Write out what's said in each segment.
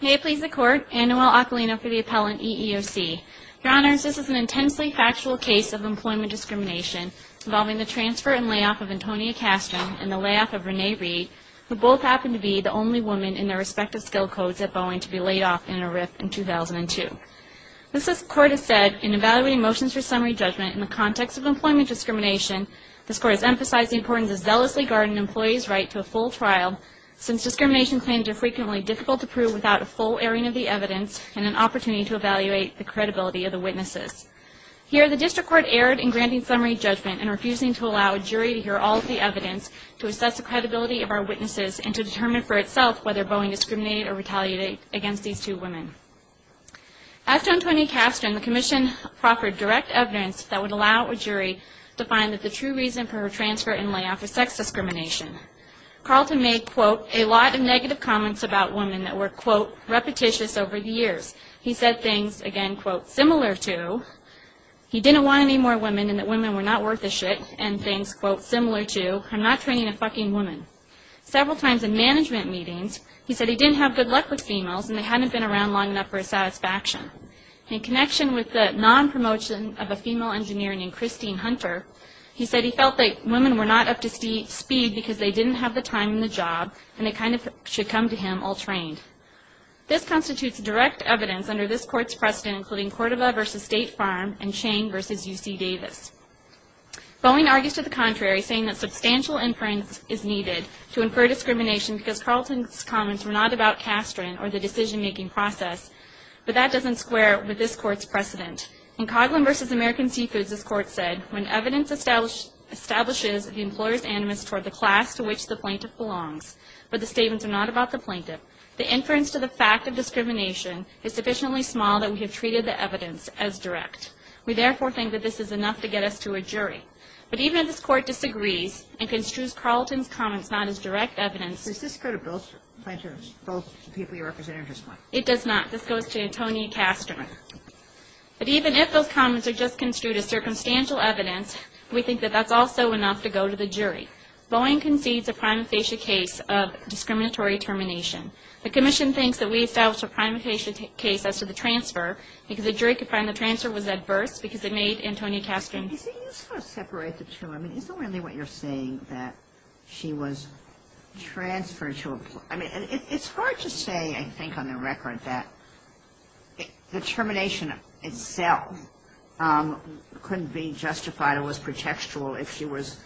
May it please the Court, Anne-Noelle Acalino for the Appellant EEOC. Your Honors, this is an intensely factual case of employment discrimination involving the transfer and layoff of Antonia Castron and the layoff of Renee Reid, who both happened to be the only woman in their respective skill codes at Boeing to be laid off in a RIF in 2002. This, as the Court has said, in evaluating motions for summary judgment in the context of employment discrimination, this Court has emphasized the importance of zealously guarding an employee's right to a full trial, since discrimination claims are frequently difficult to prove without a full airing of the evidence and an opportunity to evaluate the credibility of the witnesses. Here, the District Court erred in granting summary judgment and refusing to allow a jury to hear all of the evidence to assess the credibility of our witnesses and to determine for itself whether Boeing discriminated or retaliated against these two women. As to Antonia Castron, the Commission proffered direct evidence that would allow a jury to find that the true reason for her transfer and layoff was sex discrimination. Carlton made, quote, a lot of negative comments about women that were, quote, repetitious over the years. He said things, again, quote, similar to, he didn't want any more women and that women were not worth a shit, and things, quote, similar to, I'm not training a fucking woman. Several times in management meetings, he said he didn't have good luck with females and they hadn't been around long enough for his satisfaction. In connection with the non-promotion of a female engineer named Castron, he felt that women were not up to speed because they didn't have the time and the job and they kind of should come to him all trained. This constitutes direct evidence under this Court's precedent, including Cordova v. State Farm and Chang v. UC Davis. Boeing argues to the contrary, saying that substantial inference is needed to infer discrimination because Carlton's comments were not about Castron or the decision-making process, but that doesn't square with this Court's precedent. In Coghlan v. American Seafoods, this Court said, when evidence establishes the employer's animus toward the class to which the plaintiff belongs, but the statements are not about the plaintiff, the inference to the fact of discrimination is sufficiently small that we have treated the evidence as direct. We, therefore, think that this is enough to get us to a jury. But even if this Court disagrees and construes Carlton's comments not as direct evidence... Does this go to both plaintiffs, both people you represented just now? It does not. This goes to Tony Castron. But even if those comments are just substantial evidence, we think that that's also enough to go to the jury. Boeing concedes a prima facie case of discriminatory termination. The Commission thinks that we established a prima facie case as to the transfer because the jury could find the transfer was adverse because it made Antonio Castron... Is it useful to separate the two? I mean, is it really what you're saying, that she was transferred to a... I mean, it's hard to say, I think, on the record that the termination itself couldn't be justified or was pretextual if she was,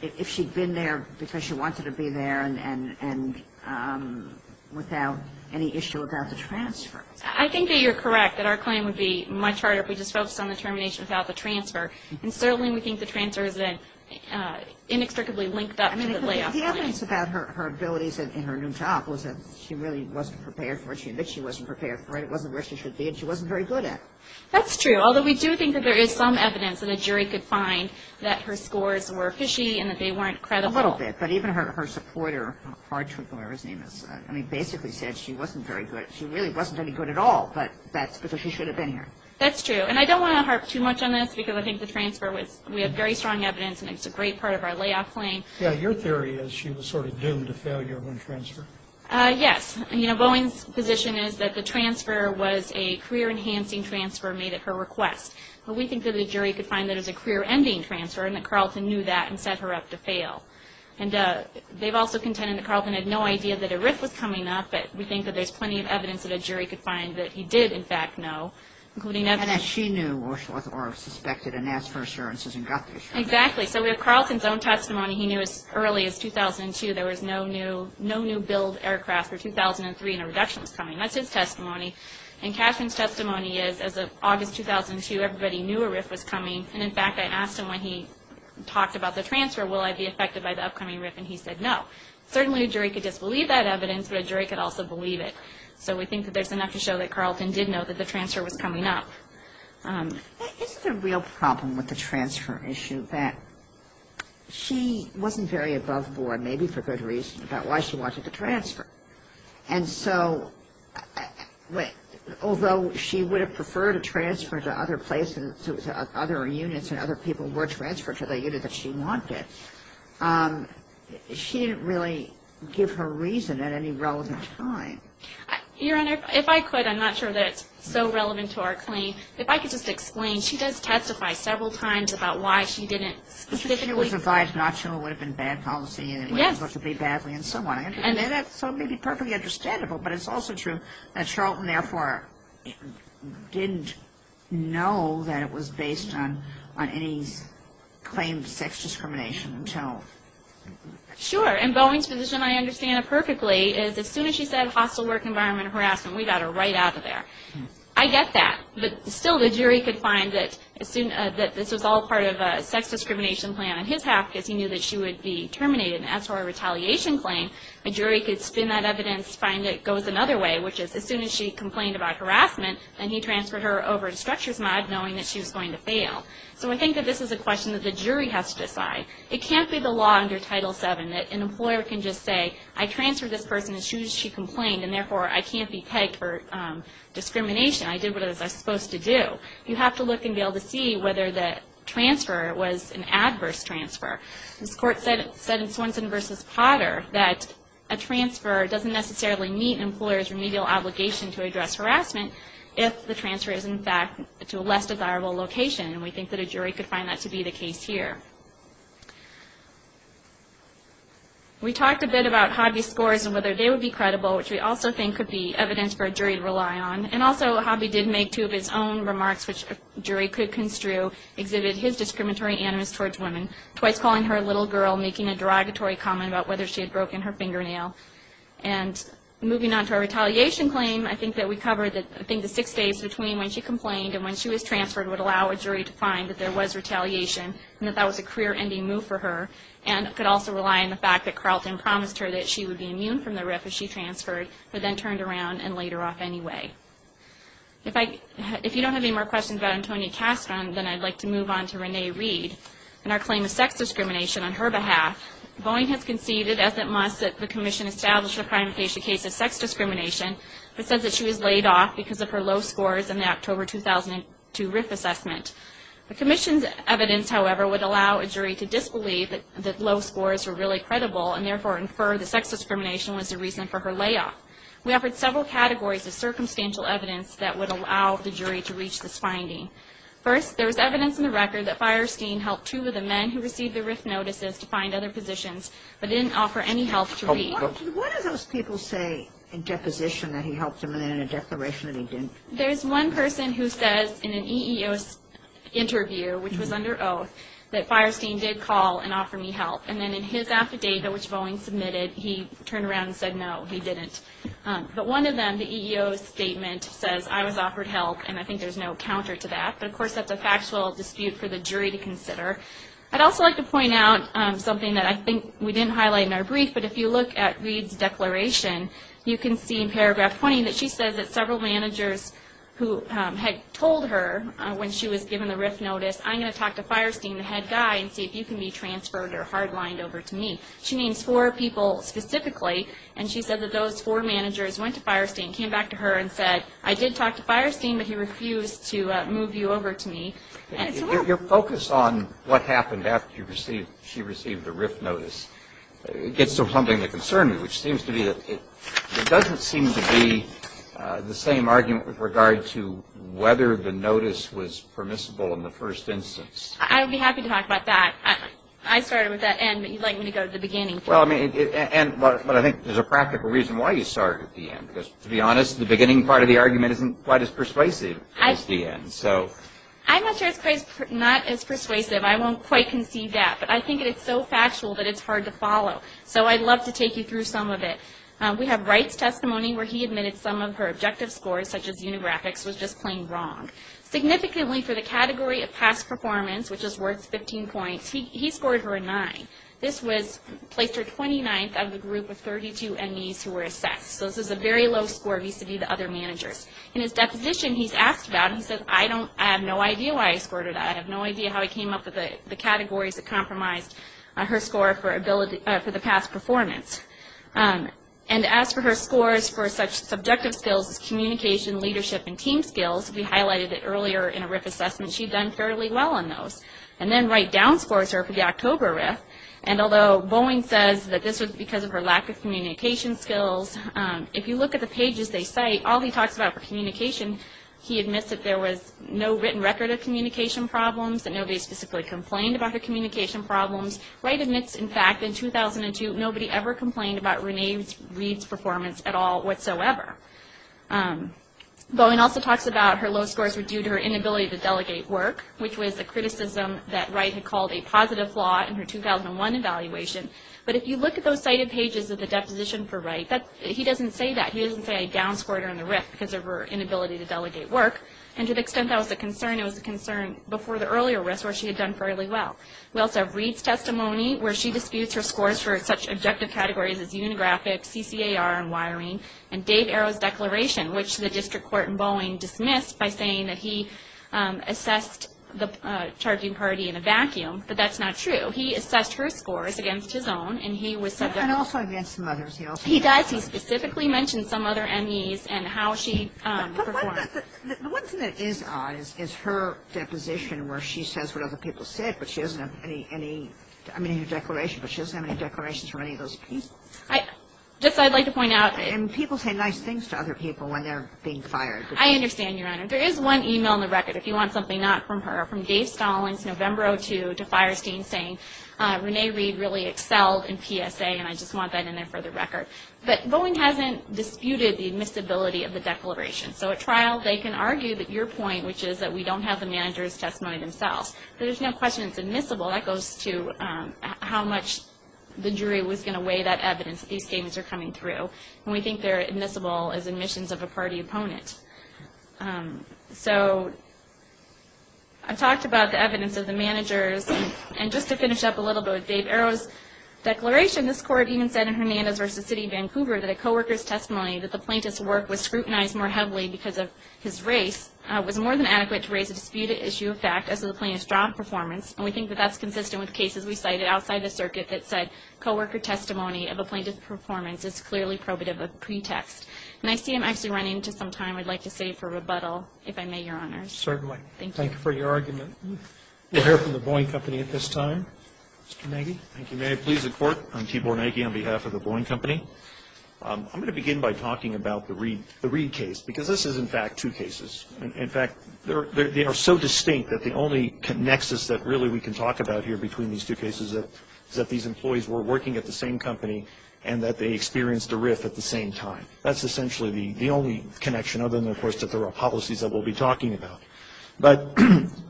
if she'd been there because she wanted to be there and without any issue about the transfer. I think that you're correct, that our claim would be much harder if we just focused on the termination without the transfer. And certainly we think the transfer is inextricably linked up to the layoff claim. I mean, the evidence about her abilities in her new job was that she really wasn't prepared for it. She admits she wasn't prepared for it. It wasn't where she should be and she wasn't very good at it. That's true, although we do think that there is some evidence that a jury could find that her scores were fishy and that they weren't credible. A little bit, but even her supporter, Hartrick, whatever his name is, I mean, basically said she wasn't very good. She really wasn't any good at all, but that's because she should have been here. That's true, and I don't want to harp too much on this because I think the transfer was, we have very strong evidence and it's a great part of our layoff claim. Yeah, your theory is she was sort of doomed to failure when transferred. Yes, you know, Boeing's position is that the transfer was a career-enhancing transfer made at her request, but we think that a jury could find that it was a career-ending transfer and that Carlton knew that and set her up to fail. And they've also contended that Carlton had no idea that a rift was coming up, but we think that there's plenty of evidence that a jury could find that he did, in fact, know, including evidence. And that she knew or suspected and asked for assurances and got the assurance. Exactly, so we have Carlton's own testimony. He knew as of August 2002 there was no new billed aircraft for 2003 and a reduction was coming. That's his testimony. And Cashman's testimony is as of August 2002 everybody knew a rift was coming, and in fact I asked him when he talked about the transfer, will I be affected by the upcoming rift, and he said no. Certainly a jury could disbelieve that evidence, but a jury could also believe it. So we think that there's enough to show that Carlton did know that the transfer was coming up. Isn't the real problem with the transfer issue that she wasn't very clear about why she wanted to transfer. And so although she would have preferred a transfer to other places, other units and other people were transferred to the unit that she wanted, she didn't really give her reason at any relevant time. Your Honor, if I could, I'm not sure that it's so relevant to our claim. If I could just explain, she does testify several times about why she didn't specifically She was advised not to, it would have been bad policy, it was supposed to be bad, and so on, so it may be perfectly understandable, but it's also true that Charlton therefore didn't know that it was based on any claimed sex discrimination. Sure, and Boeing's position, I understand it perfectly, is as soon as she said hostile work environment harassment, we got her right out of there. I get that, but still the jury could find that this was all part of a sex discrimination plan on his half because he knew that she would be terminated. As for a retaliation claim, a jury could spin that evidence, find it goes another way, which is as soon as she complained about harassment, then he transferred her over to structures mod knowing that she was going to fail. So I think that this is a question that the jury has to decide. It can't be the law under Title VII that an employer can just say, I transferred this person as soon as she complained, and therefore I can't be pegged for discrimination. I did what I was supposed to do. You have to look and be able to see whether the transfer was an adverse transfer. This court said in Swanson v. Potter that a transfer doesn't necessarily meet an employer's remedial obligation to address harassment if the transfer is in fact to a less desirable location, and we think that a jury could find that to be the case here. We talked a bit about Hobby's scores and whether they would be credible, which we also think could be his own remarks, which a jury could construe exhibited his discriminatory animus towards women, twice calling her a little girl, making a derogatory comment about whether she had broken her fingernail. And moving on to a retaliation claim, I think that we covered the six days between when she complained and when she was transferred would allow a jury to find that there was retaliation, and that that was a career-ending move for her, and could also rely on the fact that Carlton promised her that she would be immune from the RIF if she transferred, but then turned around and laid her off anyway. If you don't have any more questions about Antonia Castron, then I'd like to move on to Renee Reed and our claim of sex discrimination on her behalf. Boeing has conceded, as it must, that the Commission established a crime-information case of sex discrimination that says that she was laid off because of her low scores in the October 2002 RIF assessment. The Commission's evidence, however, would allow a jury to disbelieve that low scores were really credible, and therefore infer the sex discrimination was the reason for her layoff. We offered several categories of circumstantial evidence that would allow the jury to reach this finding. First, there was evidence in the record that Feierstein helped two of the men who received the RIF notices to find other positions, but didn't offer any help to Reed. What do those people say in deposition that he helped them, and then in a declaration that he didn't? There's one person who says in an EEO interview, which was under oath, that Feierstein did call and offer me help. And then in his affidavit, which was under oath, he turned around and said, no, he didn't. But one of them, the EEO statement, says I was offered help, and I think there's no counter to that. But of course, that's a factual dispute for the jury to consider. I'd also like to point out something that I think we didn't highlight in our brief, but if you look at Reed's declaration, you can see in paragraph 20 that she says that several managers who had told her when she was given the RIF notice, I'm going to talk to Feierstein, the head guy, and see if you can be transferred or hard-lined over to me. She means four people specifically, and she said that those four managers went to Feierstein, came back to her, and said, I did talk to Feierstein, but he refused to move you over to me. Your focus on what happened after she received the RIF notice gets so humblingly concerning, which seems to be that it doesn't seem to be the same argument with regard to whether the notice was permissible in the first instance. I would be happy to talk about that. I started with that end, but you'd like me to go to the beginning. Well, I mean, and, but I think there's a practical reason why you started with the end, because to be honest, the beginning part of the argument isn't quite as persuasive as the end, so. I'm not sure it's not as persuasive. I won't quite conceive that, but I think it's so factual that it's hard to follow. So I'd love to take you through some of it. We have Wright's testimony where he admitted some of her objective scores, such as unigraphics, was just plain wrong. Significantly for the category of past performance, which is worth 15 points, he scored her a nine. This was, placed her 29th out of the group of 32 MEs who were assessed. So this is a very low score vis-a-vis the other managers. In his deposition, he's asked about it. He says, I don't, I have no idea why I scored her that. I have no idea how I came up with the categories that compromised her score for ability, for the past performance. And as for her scores for such subjective skills as communication, leadership, and team skills, we highlighted it earlier in a RIF assessment. She'd done fairly well on those. And then Wright downscores her for the October RIF. And although Boeing says that this was because of her lack of communication skills, if you look at the pages they cite, all he talks about for communication, he admits that there was no written record of communication problems, that nobody specifically complained about her communication problems. Wright admits, in fact, in 2002, nobody ever complained about Renee Reed's performance at all whatsoever. Boeing also talks about her low scores were due to her inability to delegate work, which was a criticism that Wright had called a positive flaw in her 2001 evaluation. But if you look at those cited pages of the deposition for Wright, he doesn't say that. He doesn't say I downscored her in the RIF because of her inability to delegate work. And to the extent that was a concern, it was a concern before the earlier RIFs where she had done fairly well. We also have Reed's testimony, where she disputes her scores for such objective categories as unigraphic, CCAR, and wiring, and Dave Arrow's declaration, which the district court in Boeing dismissed by saying that he assessed the charging party in a vacuum. But that's not true. He assessed her scores against his own, and he was subject. And also against some others. He also. He does. He specifically mentions some other MEs and how she performed. But the one thing that is odd is her deposition where she says what other people said, but she doesn't have any, I mean, her declaration, but she doesn't have any declarations for any of those people. Just, I'd like to point out. And people say nice things to other people when they're being fired. I understand, Your Honor. There is one email in the record, if you want something not from her, from Dave Stallings, November 02, to Firestein saying Renee Reed really excelled in PSA, and I just want that in there for the record. But Boeing hasn't disputed the admissibility of the declaration. So at trial, they can argue that your point, which is that we don't have the manager's testimony themselves. There's no question it's to how much the jury was going to weigh that evidence that these scams are coming through. And we think they're admissible as admissions of a party opponent. So I talked about the evidence of the managers. And just to finish up a little bit with Dave Arrow's declaration, this court even said in Hernandez v. City of Vancouver that a co-worker's testimony that the plaintiff's work was scrutinized more heavily because of his race was more than adequate to raise a disputed issue of fact as to the plaintiff's job performance. And we think that that's consistent with cases we cited outside the circuit that said co-worker testimony of a plaintiff's performance is clearly probative of pretext. And I see I'm actually running into some time I'd like to save for rebuttal, if I may, Your Honors. Certainly. Thank you for your argument. We'll hear from the Boeing Company at this time. Mr. Nagy. Thank you. May I please the Court? I'm Keith Bornagi on behalf of the Boeing Company. I'm going to begin by talking about the Reed case, because this is, in fact, two cases. In fact, they are so distinct that the only nexus that really we can talk about here between these two cases is that these employees were working at the same company and that they experienced a RIF at the same time. That's essentially the only connection, other than, of course, that there are policies that we'll be talking about. But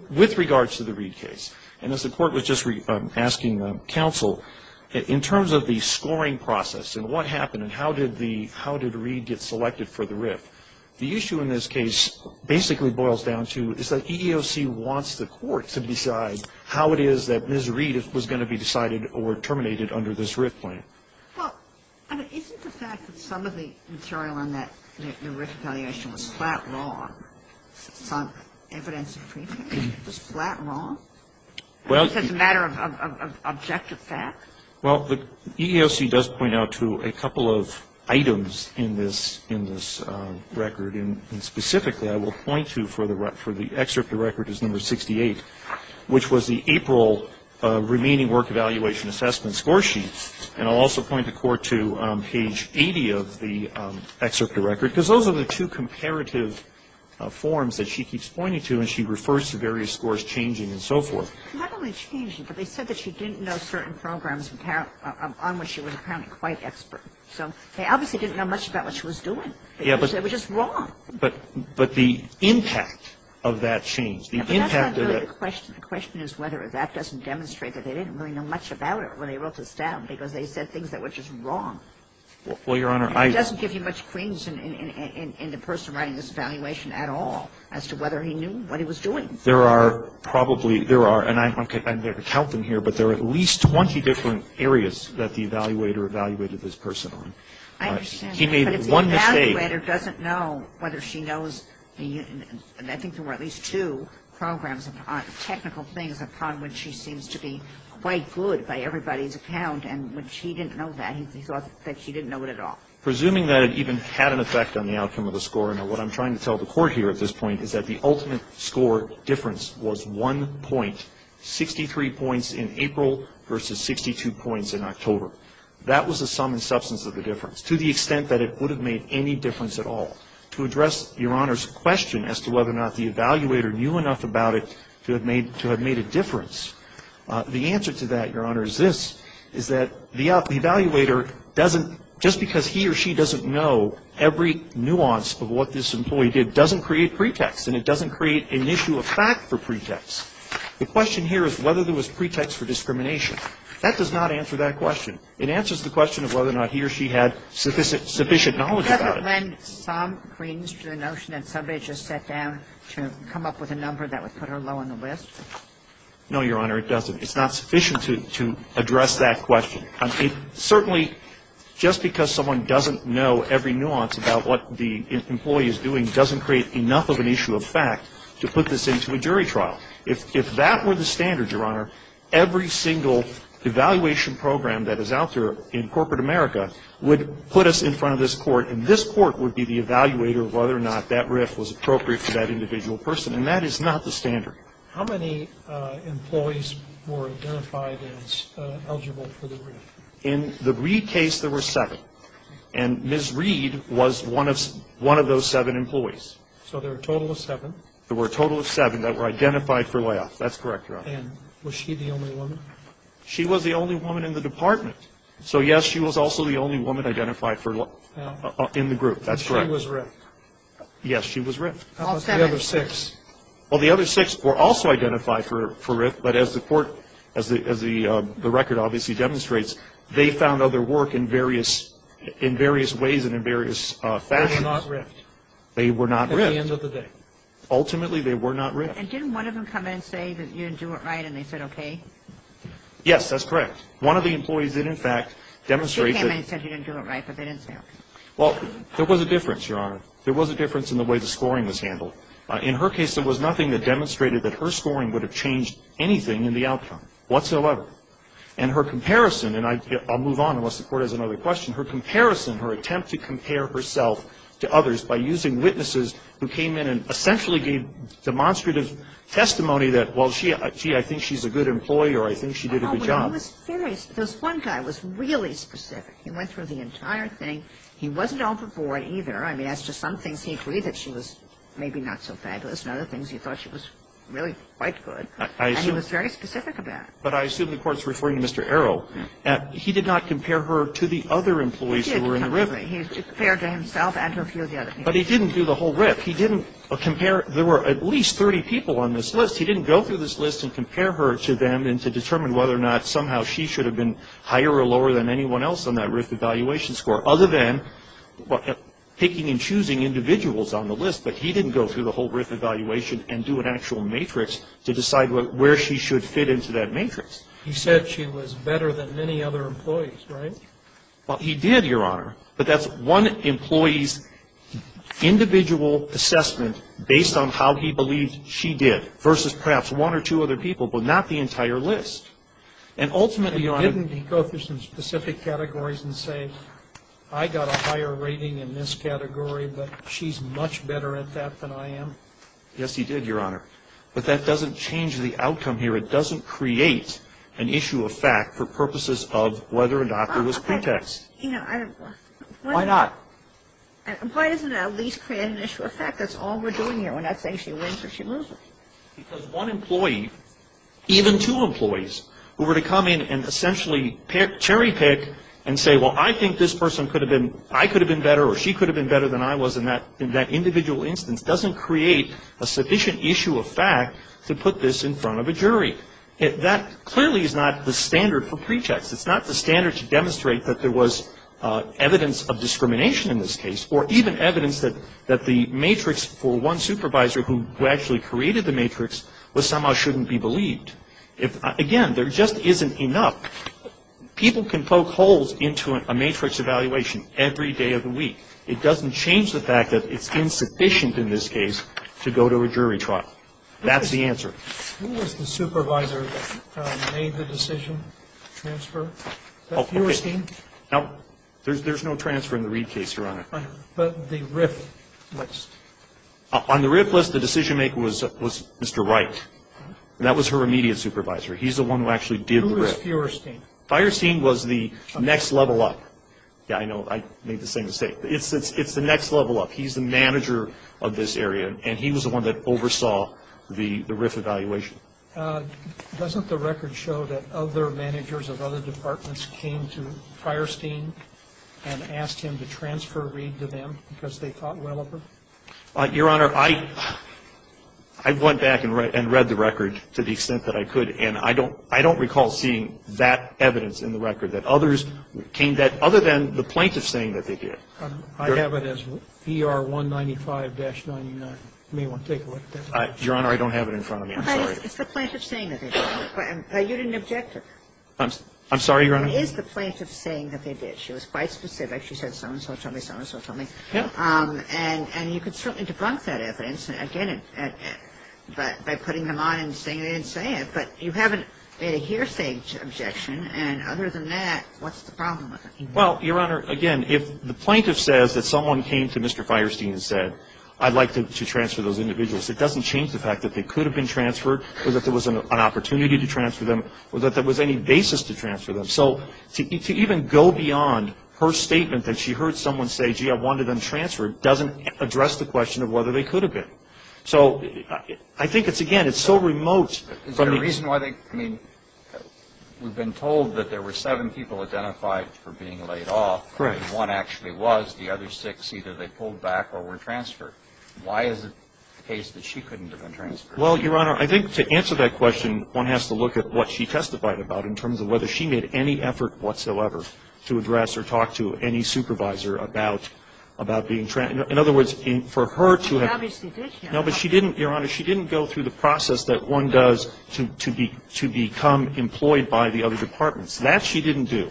with regards to the Reed case, and as the Court was just asking counsel, in terms of the scoring process and what happened and how did the Reed get selected for the RIF, the issue in this case basically boils down to is that EEOC wants the Court to decide how it is that Ms. Reed was going to be decided or terminated under this RIF plan. Well, I mean, isn't the fact that some of the material on that new RIF appellation was flat wrong? Some evidence was flat wrong as a matter of objective fact? Well, the EEOC does point out to a couple of items in this record, and specifically I will point to for the excerpt of record is number 68, which was the April remaining work evaluation assessment score sheet. And I'll also point the Court to page 80 of the excerpt of record, because those are the two comparative forms that she keeps pointing to, and she refers to various scores changing and so forth. Not only changing, but they said that she didn't know certain programs on which she was apparently quite expert. So they obviously didn't know much about what she was doing. Yeah, but the impact of that change, the impact of the question, the question is whether that doesn't demonstrate that they didn't really know much about her when they wrote this down, because they said things that were just wrong. Well, Your Honor, I It doesn't give you much cringe in the person writing this evaluation at all as to whether he knew what he was doing. There are probably, there are, and I'm not going to count them here, but there are at least 20 different areas that the evaluator evaluated this person on. I understand that, but if the evaluator doesn't know whether she knows, and I think there were at least two programs, technical things upon which she seems to be quite good by everybody's account, and when she didn't know that, he thought that she didn't know it at all. Presuming that it even had an effect on the outcome of the score, and what I'm trying to tell the Court here at this point is that the ultimate score difference was one point, 63 points in April versus 62 points in October. That was the sum and substance of the difference, to the extent that it would have made any difference at all. To address Your Honor's question as to whether or not the evaluator knew enough about it to have made, to have made a difference, the answer to that, Your Honor, is this, is that the evaluator doesn't, just because he or she doesn't know, every nuance of what this employee did doesn't create pretext, and it doesn't create an issue of fact for pretext. The question here is whether there was pretext for discrimination. That does not answer that question. It answers the question of whether or not he or she had sufficient knowledge about it. Can't it lend some credence to the notion that somebody just sat down to come up with a number that would put her low on the list? No, Your Honor, it doesn't. It's not sufficient to address that question. Certainly, just because someone doesn't know every nuance about what the employee is doing doesn't create enough of an issue of fact to put this into a jury trial. If that were the standard, Your Honor, every single evaluation program that is out there in corporate America would put us in front of this court, and this court would be the evaluator of whether or not that RIF was appropriate for that individual person, and that is not the standard. How many employees were identified as eligible for the RIF? In the Reid case, there were seven, and Ms. Reid was one of those seven employees. So there were a total of seven. There were a total of seven that were identified for layoff. That's correct, Your Honor. And was she the only woman? She was the only woman in the department. So, yes, she was also the only woman identified in the group. That's correct. And she was RIF? Yes, she was RIF. How about the other six? Well, the other six were also identified for RIF, but as the court, as the record obviously demonstrates, they found other work in various ways and in various fashions. They were not RIFed? They were not RIFed. At the end of the day? Ultimately, they were not RIFed. And didn't one of them come in and say that you didn't do it right, and they said, okay? Yes, that's correct. One of the employees did, in fact, demonstrate that... She came in and said you didn't do it right, but they didn't say okay. Well, there was a difference, Your Honor. There was a difference in the way the scoring was handled. In her case, there was nothing that demonstrated that her scoring would have changed anything in the outcome whatsoever. And her comparison, and I'll move on unless the Court has another question. Her comparison, her attempt to compare herself to others by using witnesses who came in and essentially gave demonstrative testimony that, well, gee, I think she's a good employee, or I think she did a good job. No, but he was very specific. This one guy was really specific. He went through the entire thing. He wasn't overboard either. I mean, as to some things, he agreed that she was maybe not so fabulous, and other things, he thought she was really quite good. And he was very specific about it. But I assume the Court's referring to Mr. Arrow. He did not compare her to the other employees who were in the RIF. He did compare to himself and to a few of the other people. But he didn't do the whole RIF. He didn't compare. There were at least 30 people on this list. He didn't go through this list and compare her to them and to determine whether or not somehow she should have been higher or lower than anyone else on that RIF evaluation score, other than picking and choosing individuals on the list. But he didn't go through the whole RIF evaluation and do an actual matrix to decide where she should fit into that matrix. He said she was better than many other employees, right? Well, he did, Your Honor. But that's one employee's individual assessment based on how he believed she did versus perhaps one or two other people, but not the entire list. And ultimately, Your Honor He didn't go through some specific categories and say, I got a higher rating in this category, but she's much better at that than I am. Yes, he did, Your Honor. But that doesn't change the outcome here. It doesn't create an issue of fact for purposes of whether or not there was pretext. Why not? Why doesn't it at least create an issue of fact? That's all we're doing here. We're not saying she wins or she loses. Because one employee, even two employees, who were to come in and essentially cherry pick and say, well, I think this person could have been I could have been better or she could have been better than I was in that in that individual instance, doesn't create a sufficient issue of fact to put this in front of a jury. That clearly is not the standard for pretext. It's not the standard to demonstrate that there was evidence of discrimination in this case or even evidence that the matrix for one supervisor who actually created the matrix was somehow shouldn't be believed. Again, there just isn't enough. People can poke holes into a matrix evaluation every day of the week. It doesn't change the fact that it's insufficient in this case to go to a jury trial. That's the answer. Who was the supervisor that made the decision to transfer? Is that your esteem? No, there's no transfer in the Reed case, Your Honor. But the RIF list? On the RIF list, the decision maker was Mr. Wright. That was her immediate supervisor. He's the one who actually did the RIF. Who was Fierstein? Fierstein was the next level up. Yeah, I know. I made the same mistake. It's the next level up. He's the manager of this area and he was the one that oversaw the RIF evaluation. Doesn't the record show that other managers of other departments came to Fierstein and asked him to transfer Reed to them because they thought well of her? Your Honor, I went back and read the record to the extent that I could and I don't recall seeing that evidence in the record that others came that other than the plaintiff's saying that they did. I have it as ER 195-99. You may want to take a look at that. Your Honor, I don't have it in front of me. I'm sorry. It's the plaintiff's saying that they did. You didn't object to it. I'm sorry, Your Honor? It is the plaintiff's saying that they did. She was quite specific. She said so-and-so told me, so-and-so told me. Yeah. And you could certainly debunk that evidence, again, by putting them on and saying they didn't say it, but you haven't made a hearsay objection and other than that, what's the problem with it? Well, Your Honor, again, if the plaintiff says that someone came to Mr. Fierstein and said I'd like to transfer those individuals, it doesn't change the fact that they could have been transferred or that there was an opportunity to transfer them or that there was any basis to transfer them. So to even go beyond her statement that she heard someone say, gee, I wanted them transferred, doesn't address the question of whether they could have been. So I think it's, again, it's so remote. Is there a reason why they, I mean, we've been told that there were seven people identified for being laid off and one actually was, the other six, either they pulled back or were transferred. Why is it the case that she couldn't have been transferred? Well, Your Honor, I think to answer that question, one has to look at what she testified about in terms of whether she made any effort whatsoever to address or But I think that's not what she testified about. In fact, I think she testified about being, in other words, for her to have, no, but she didn't, Your Honor, she didn't go through the process that one does to become employed by the other departments. That she didn't do.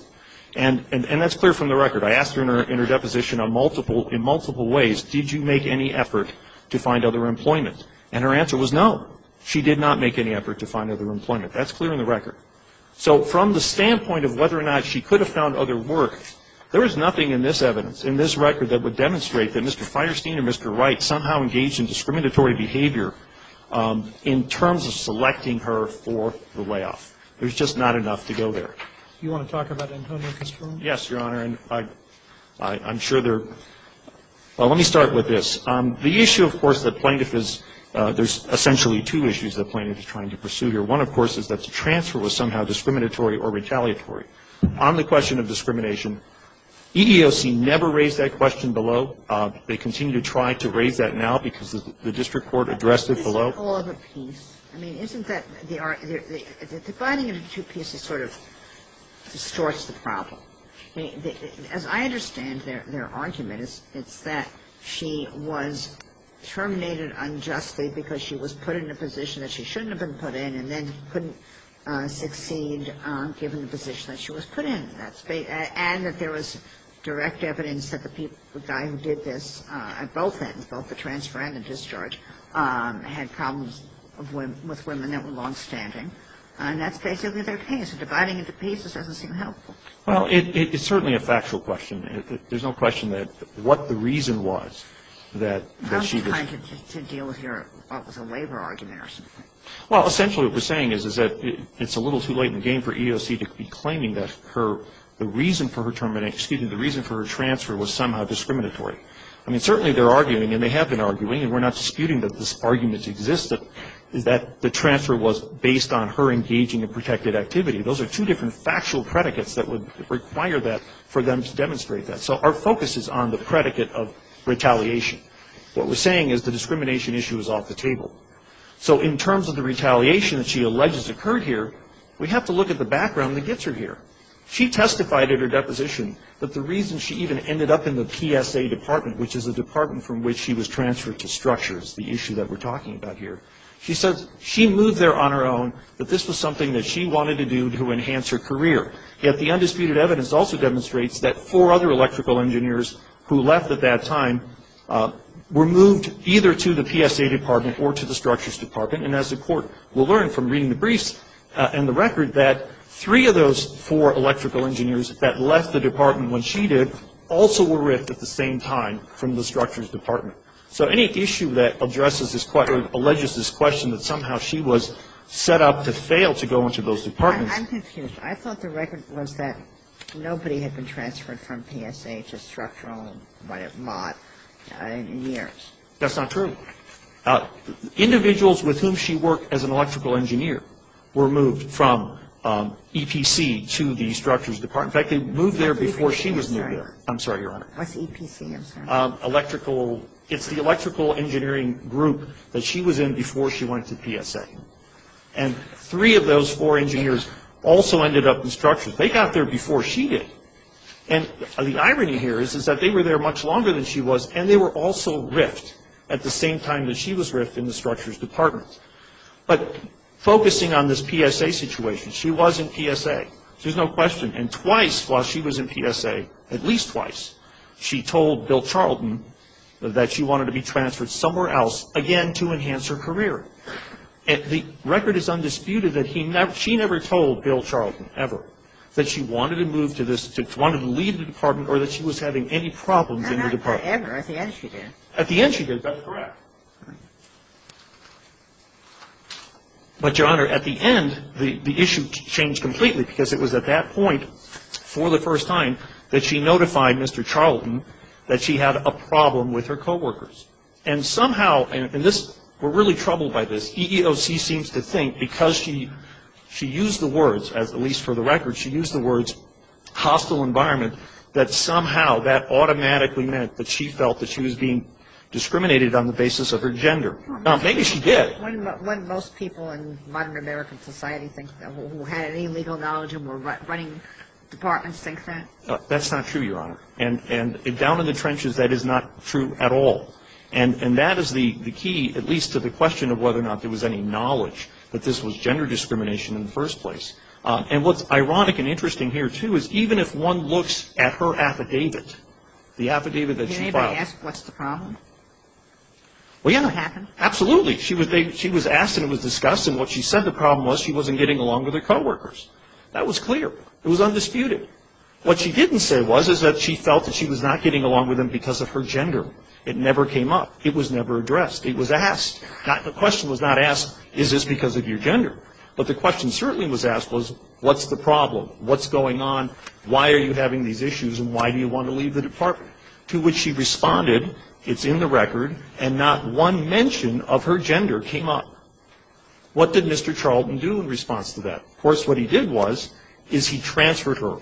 And that's clear from the record. I asked her in her deposition on multiple, in multiple ways, did you make any effort to find other employment? And her answer was no. She did not make any effort to find other employment. That's clear in the record. So from the standpoint of whether or not she could have found other work, there is nothing in this evidence, in this record that would demonstrate that Mr. Fierstein or Mr. Wright somehow engaged in discriminatory behavior in terms of selecting her for the layoff. There's just not enough to go there. You want to talk about Antonio Castrone? Yes, Your Honor. And I, I'm sure there, well, let me start with this. The issue, of course, that plaintiff is, there's essentially two issues that plaintiff is trying to pursue here. One, of course, is that the transfer was somehow discriminatory or retaliatory. On the question of discrimination, EEOC never raised that question below. They continue to try to raise that now because the district court addressed it below. Is it all of a piece? I mean, isn't that the, the dividing of the two pieces sort of distorts the problem. As I understand their argument, it's that she was terminated unjustly because she was put in a position that she shouldn't have been put in. And then couldn't succeed given the position that she was put in that space. And that there was direct evidence that the people, the guy who did this at both ends, both the transfer and the discharge, had problems with women that were longstanding. And that's basically their case. Dividing into pieces doesn't seem helpful. Well, it is certainly a factual question. There's no question that what the reason was that she was. How did she deal with her, what was a labor argument or something? Well, essentially what we're saying is, is that it's a little too late in the game for EOC to be claiming that her, the reason for her termination, excuse me, the reason for her transfer was somehow discriminatory. I mean, certainly they're arguing and they have been arguing, and we're not disputing that this argument exists, is that the transfer was based on her engaging in protected activity. Those are two different factual predicates that would require that for them to demonstrate that. So our focus is on the predicate of retaliation. What we're saying is the discrimination issue is off the table. So in terms of the retaliation that she alleges occurred here, we have to look at the background that gets her here. She testified at her deposition that the reason she even ended up in the PSA department, which is a department from which she was transferred to structures, the issue that we're talking about here, she says she moved there on her own, that this was something that she wanted to do to enhance her career. Yet the undisputed evidence also demonstrates that four other electrical engineers who left at that time were moved either to the PSA department or to the structures department. And as the Court will learn from reading the briefs and the record, that three of those four electrical engineers that left the department when she did also were ripped at the same time from the structures department. So any issue that addresses this question, alleges this question, that somehow she was set up to fail to go into those departments. I'm confused. I thought the record was that nobody had been transferred from PSA to structural mod in years. That's not true. Individuals with whom she worked as an electrical engineer were moved from EPC to the structures department. In fact, they moved there before she was moved there. I'm sorry, Your Honor. What's EPC, I'm sorry. It's the electrical engineering group that she was in before she went to PSA. And three of those four engineers also ended up in structures. They got there before she did. And the irony here is that they were there much longer than she was, and they were also ripped at the same time that she was ripped in the structures department. But focusing on this PSA situation, she was in PSA. There's no question. And twice while she was in PSA, at least twice, she told Bill Charlton that she wanted to be transferred somewhere else again to enhance her career. The record is undisputed that she never told Bill Charlton ever that she wanted to move to this, wanted to leave the department or that she was having any problems in the department. Ever, at the end she did. At the end she did, that's correct. But, Your Honor, at the end, the issue changed completely because it was at that point, for the first time, that she notified Mr. Charlton that she had a problem with her coworkers. And somehow, and this, we're really troubled by this, EEOC seems to think because she used the words, at least for the record, she used the words hostile environment, that somehow, that automatically meant that she felt that she was being discriminated on the basis of her gender. Now, maybe she did. When most people in modern American society think that, who had any legal knowledge and were running departments think that? That's not true, Your Honor. And down in the trenches, that is not true at all. And that is the key, at least to the question of whether or not there was any knowledge that this was gender discrimination in the first place. And what's ironic and interesting here, too, is even if one looks at her affidavit, the affidavit that she filed. Can anybody ask what's the problem? Well, Your Honor. What happened? Absolutely. She was asked and it was discussed and what she said the problem was she wasn't getting along with her coworkers. That was clear. It was undisputed. What she didn't say was, is that she felt that she was not getting along with them because of her gender. It never came up. It was never addressed. It was asked. The question was not asked, is this because of your gender? But the question certainly was asked was, what's the problem? What's going on? Why are you having these issues and why do you want to leave the department? To which she responded, it's in the record, and not one mention of her gender came up. What did Mr. Charlton do in response to that? Of course, what he did was, is he transferred her.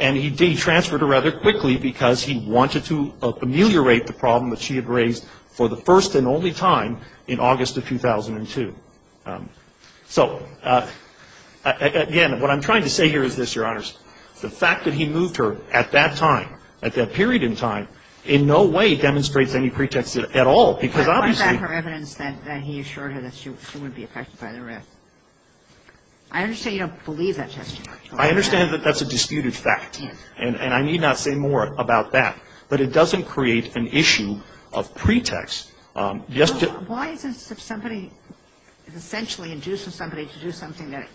And he transferred her rather quickly because he wanted to ameliorate the problem that she had raised for the first and only time in August of 2002. So, again, what I'm trying to say here is this, Your Honors, the fact that he moved her at that time, at that period in time, in no way demonstrates any pretext at all, because obviously... Why is that her evidence that he assured her that she wouldn't be affected by the rest? I understand you don't believe that testimony. I understand that that's a disputed fact. And I need not say more about that. But it doesn't create an issue of pretext. Why is it that if somebody is essentially inducing somebody to do something that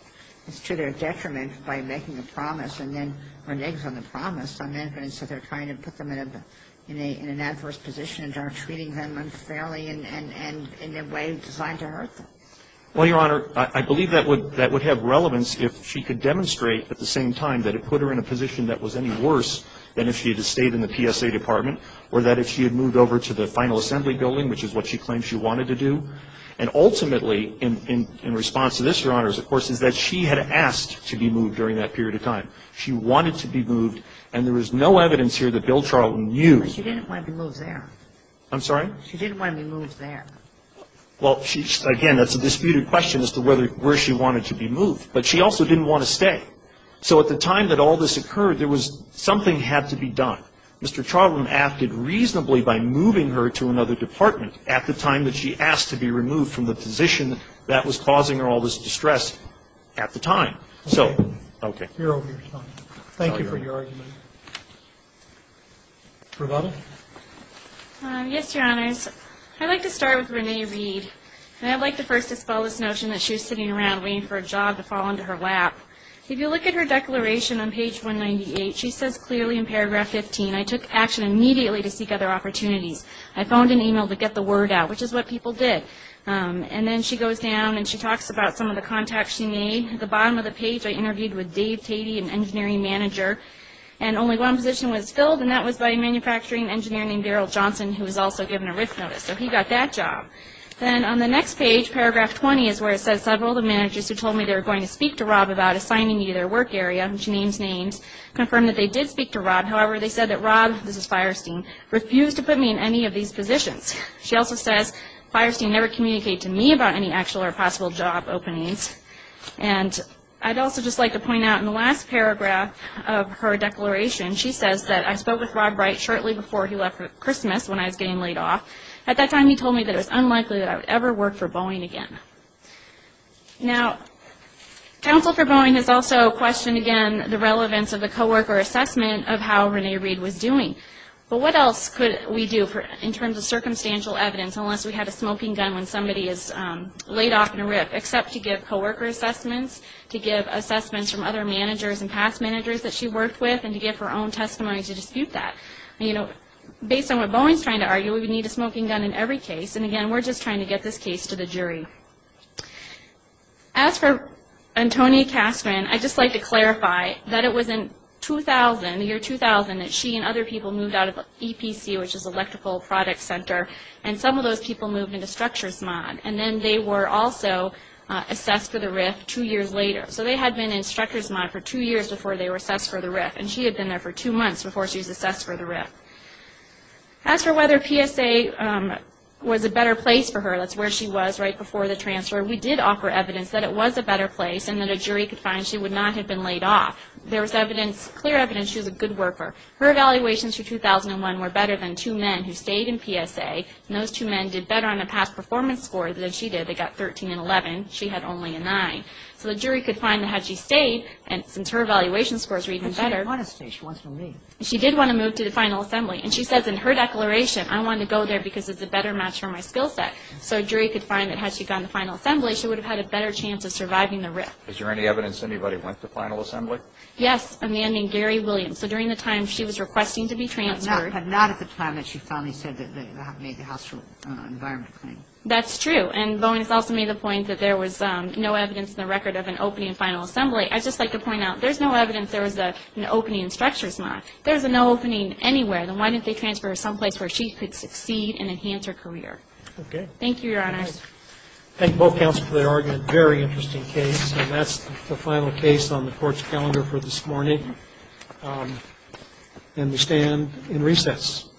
is to their detriment by making a promise and then reneges on the promise, on the other hand, so they're trying to put them in an adverse position and are treating them unfairly and in a way designed to hurt them? Well, Your Honor, I believe that would have relevance if she could demonstrate at the same time that it put her in a position that was any worse than if she had stayed in the PSA department, or that if she had moved over to the final assembly building, which is what she claimed she wanted to do. And ultimately, in response to this, Your Honor, of course, is that she had asked to be moved during that period of time. She wanted to be moved. And there is no evidence here that Bill Charlton knew... But she didn't want to be moved there. I'm sorry? She didn't want to be moved there. Well, again, that's a disputed question as to where she wanted to be moved. But she also didn't want to stay. So at the time that all this occurred, there was something had to be done. Mr. Charlton acted reasonably by moving her to another department at the time that she asked to be removed from the position that was causing her all this distress at the time. So, okay. You're over your time. Thank you for your argument. Rebecca? Yes, Your Honors. I'd like to start with Renee Reed. And I'd like to first expel this notion that she was sitting around waiting for a job to fall into her lap. If you look at her declaration on page 198, she says clearly in paragraph 15, I took action immediately to seek other opportunities. I phoned an email to get the word out, which is what people did. And then she goes down and she talks about some of the contacts she made. At the bottom of the page, I interviewed with Dave Tatey, an engineering manager. And only one position was filled, and that was by a manufacturing engineer named Darrell Johnson, who was also given a risk notice. So he got that job. The employees who told me they were going to speak to Rob about assigning me to their work area, and she names names, confirmed that they did speak to Rob. However, they said that Rob, this is Fierstein, refused to put me in any of these positions. She also says, Fierstein never communicated to me about any actual or possible job openings. And I'd also just like to point out in the last paragraph of her declaration, she says that I spoke with Rob Wright shortly before he left for Christmas when I was getting laid off. At that time, he told me that it was unlikely that I would ever work for Boeing again. Now, counsel for Boeing has also questioned, again, the relevance of the co-worker assessment of how Renee Reed was doing. But what else could we do in terms of circumstantial evidence, unless we had a smoking gun when somebody is laid off in a RIP, except to give co-worker assessments, to give assessments from other managers and past managers that she worked with, and to give her own testimony to dispute that. You know, based on what Boeing's trying to argue, we would need a smoking gun in every case, and again, we're just trying to get this case to the jury. As for Antonia Castron, I'd just like to clarify that it was in 2000, the year 2000, that she and other people moved out of EPC, which is Electrical Product Center, and some of those people moved into Structure's Mod, and then they were also assessed for the RIP two years later. So they had been in Structure's Mod for two years before they were assessed for the RIP, and she had been there for two months before she was assessed for the RIP. As for whether PSA was a better place for her, that's where she was right before the transfer. We did offer evidence that it was a better place, and that a jury could find she would not have been laid off. There was evidence, clear evidence she was a good worker. Her evaluations for 2001 were better than two men who stayed in PSA, and those two men did better on a past performance score than she did. They got 13 and 11. She had only a 9. So the jury could find that had she stayed, and since her evaluation scores were even better. She didn't want to stay. She wants to leave. She did want to move to the final assembly, and she says in her declaration, I want to go there because it's a better match for my skill set. So a jury could find that had she gone to the final assembly, she would have had a better chance of surviving the RIP. Is there any evidence anybody went to the final assembly? Yes, a man named Gary Williams. So during the time she was requesting to be transferred. But not at the time that she finally said that they made the house rule, environment claim. That's true. And Bowen has also made the point that there was no evidence in the record of an opening in final assembly. I'd just like to point out, there's no evidence there was an opening in structures, Ma. There's no opening anywhere. Then why didn't they transfer her someplace where she could succeed and enhance her career? Okay. Thank you, Your Honor. Thank both counsels for their argument. Very interesting case. And that's the final case on the court's calendar for this morning. And we stand in recess.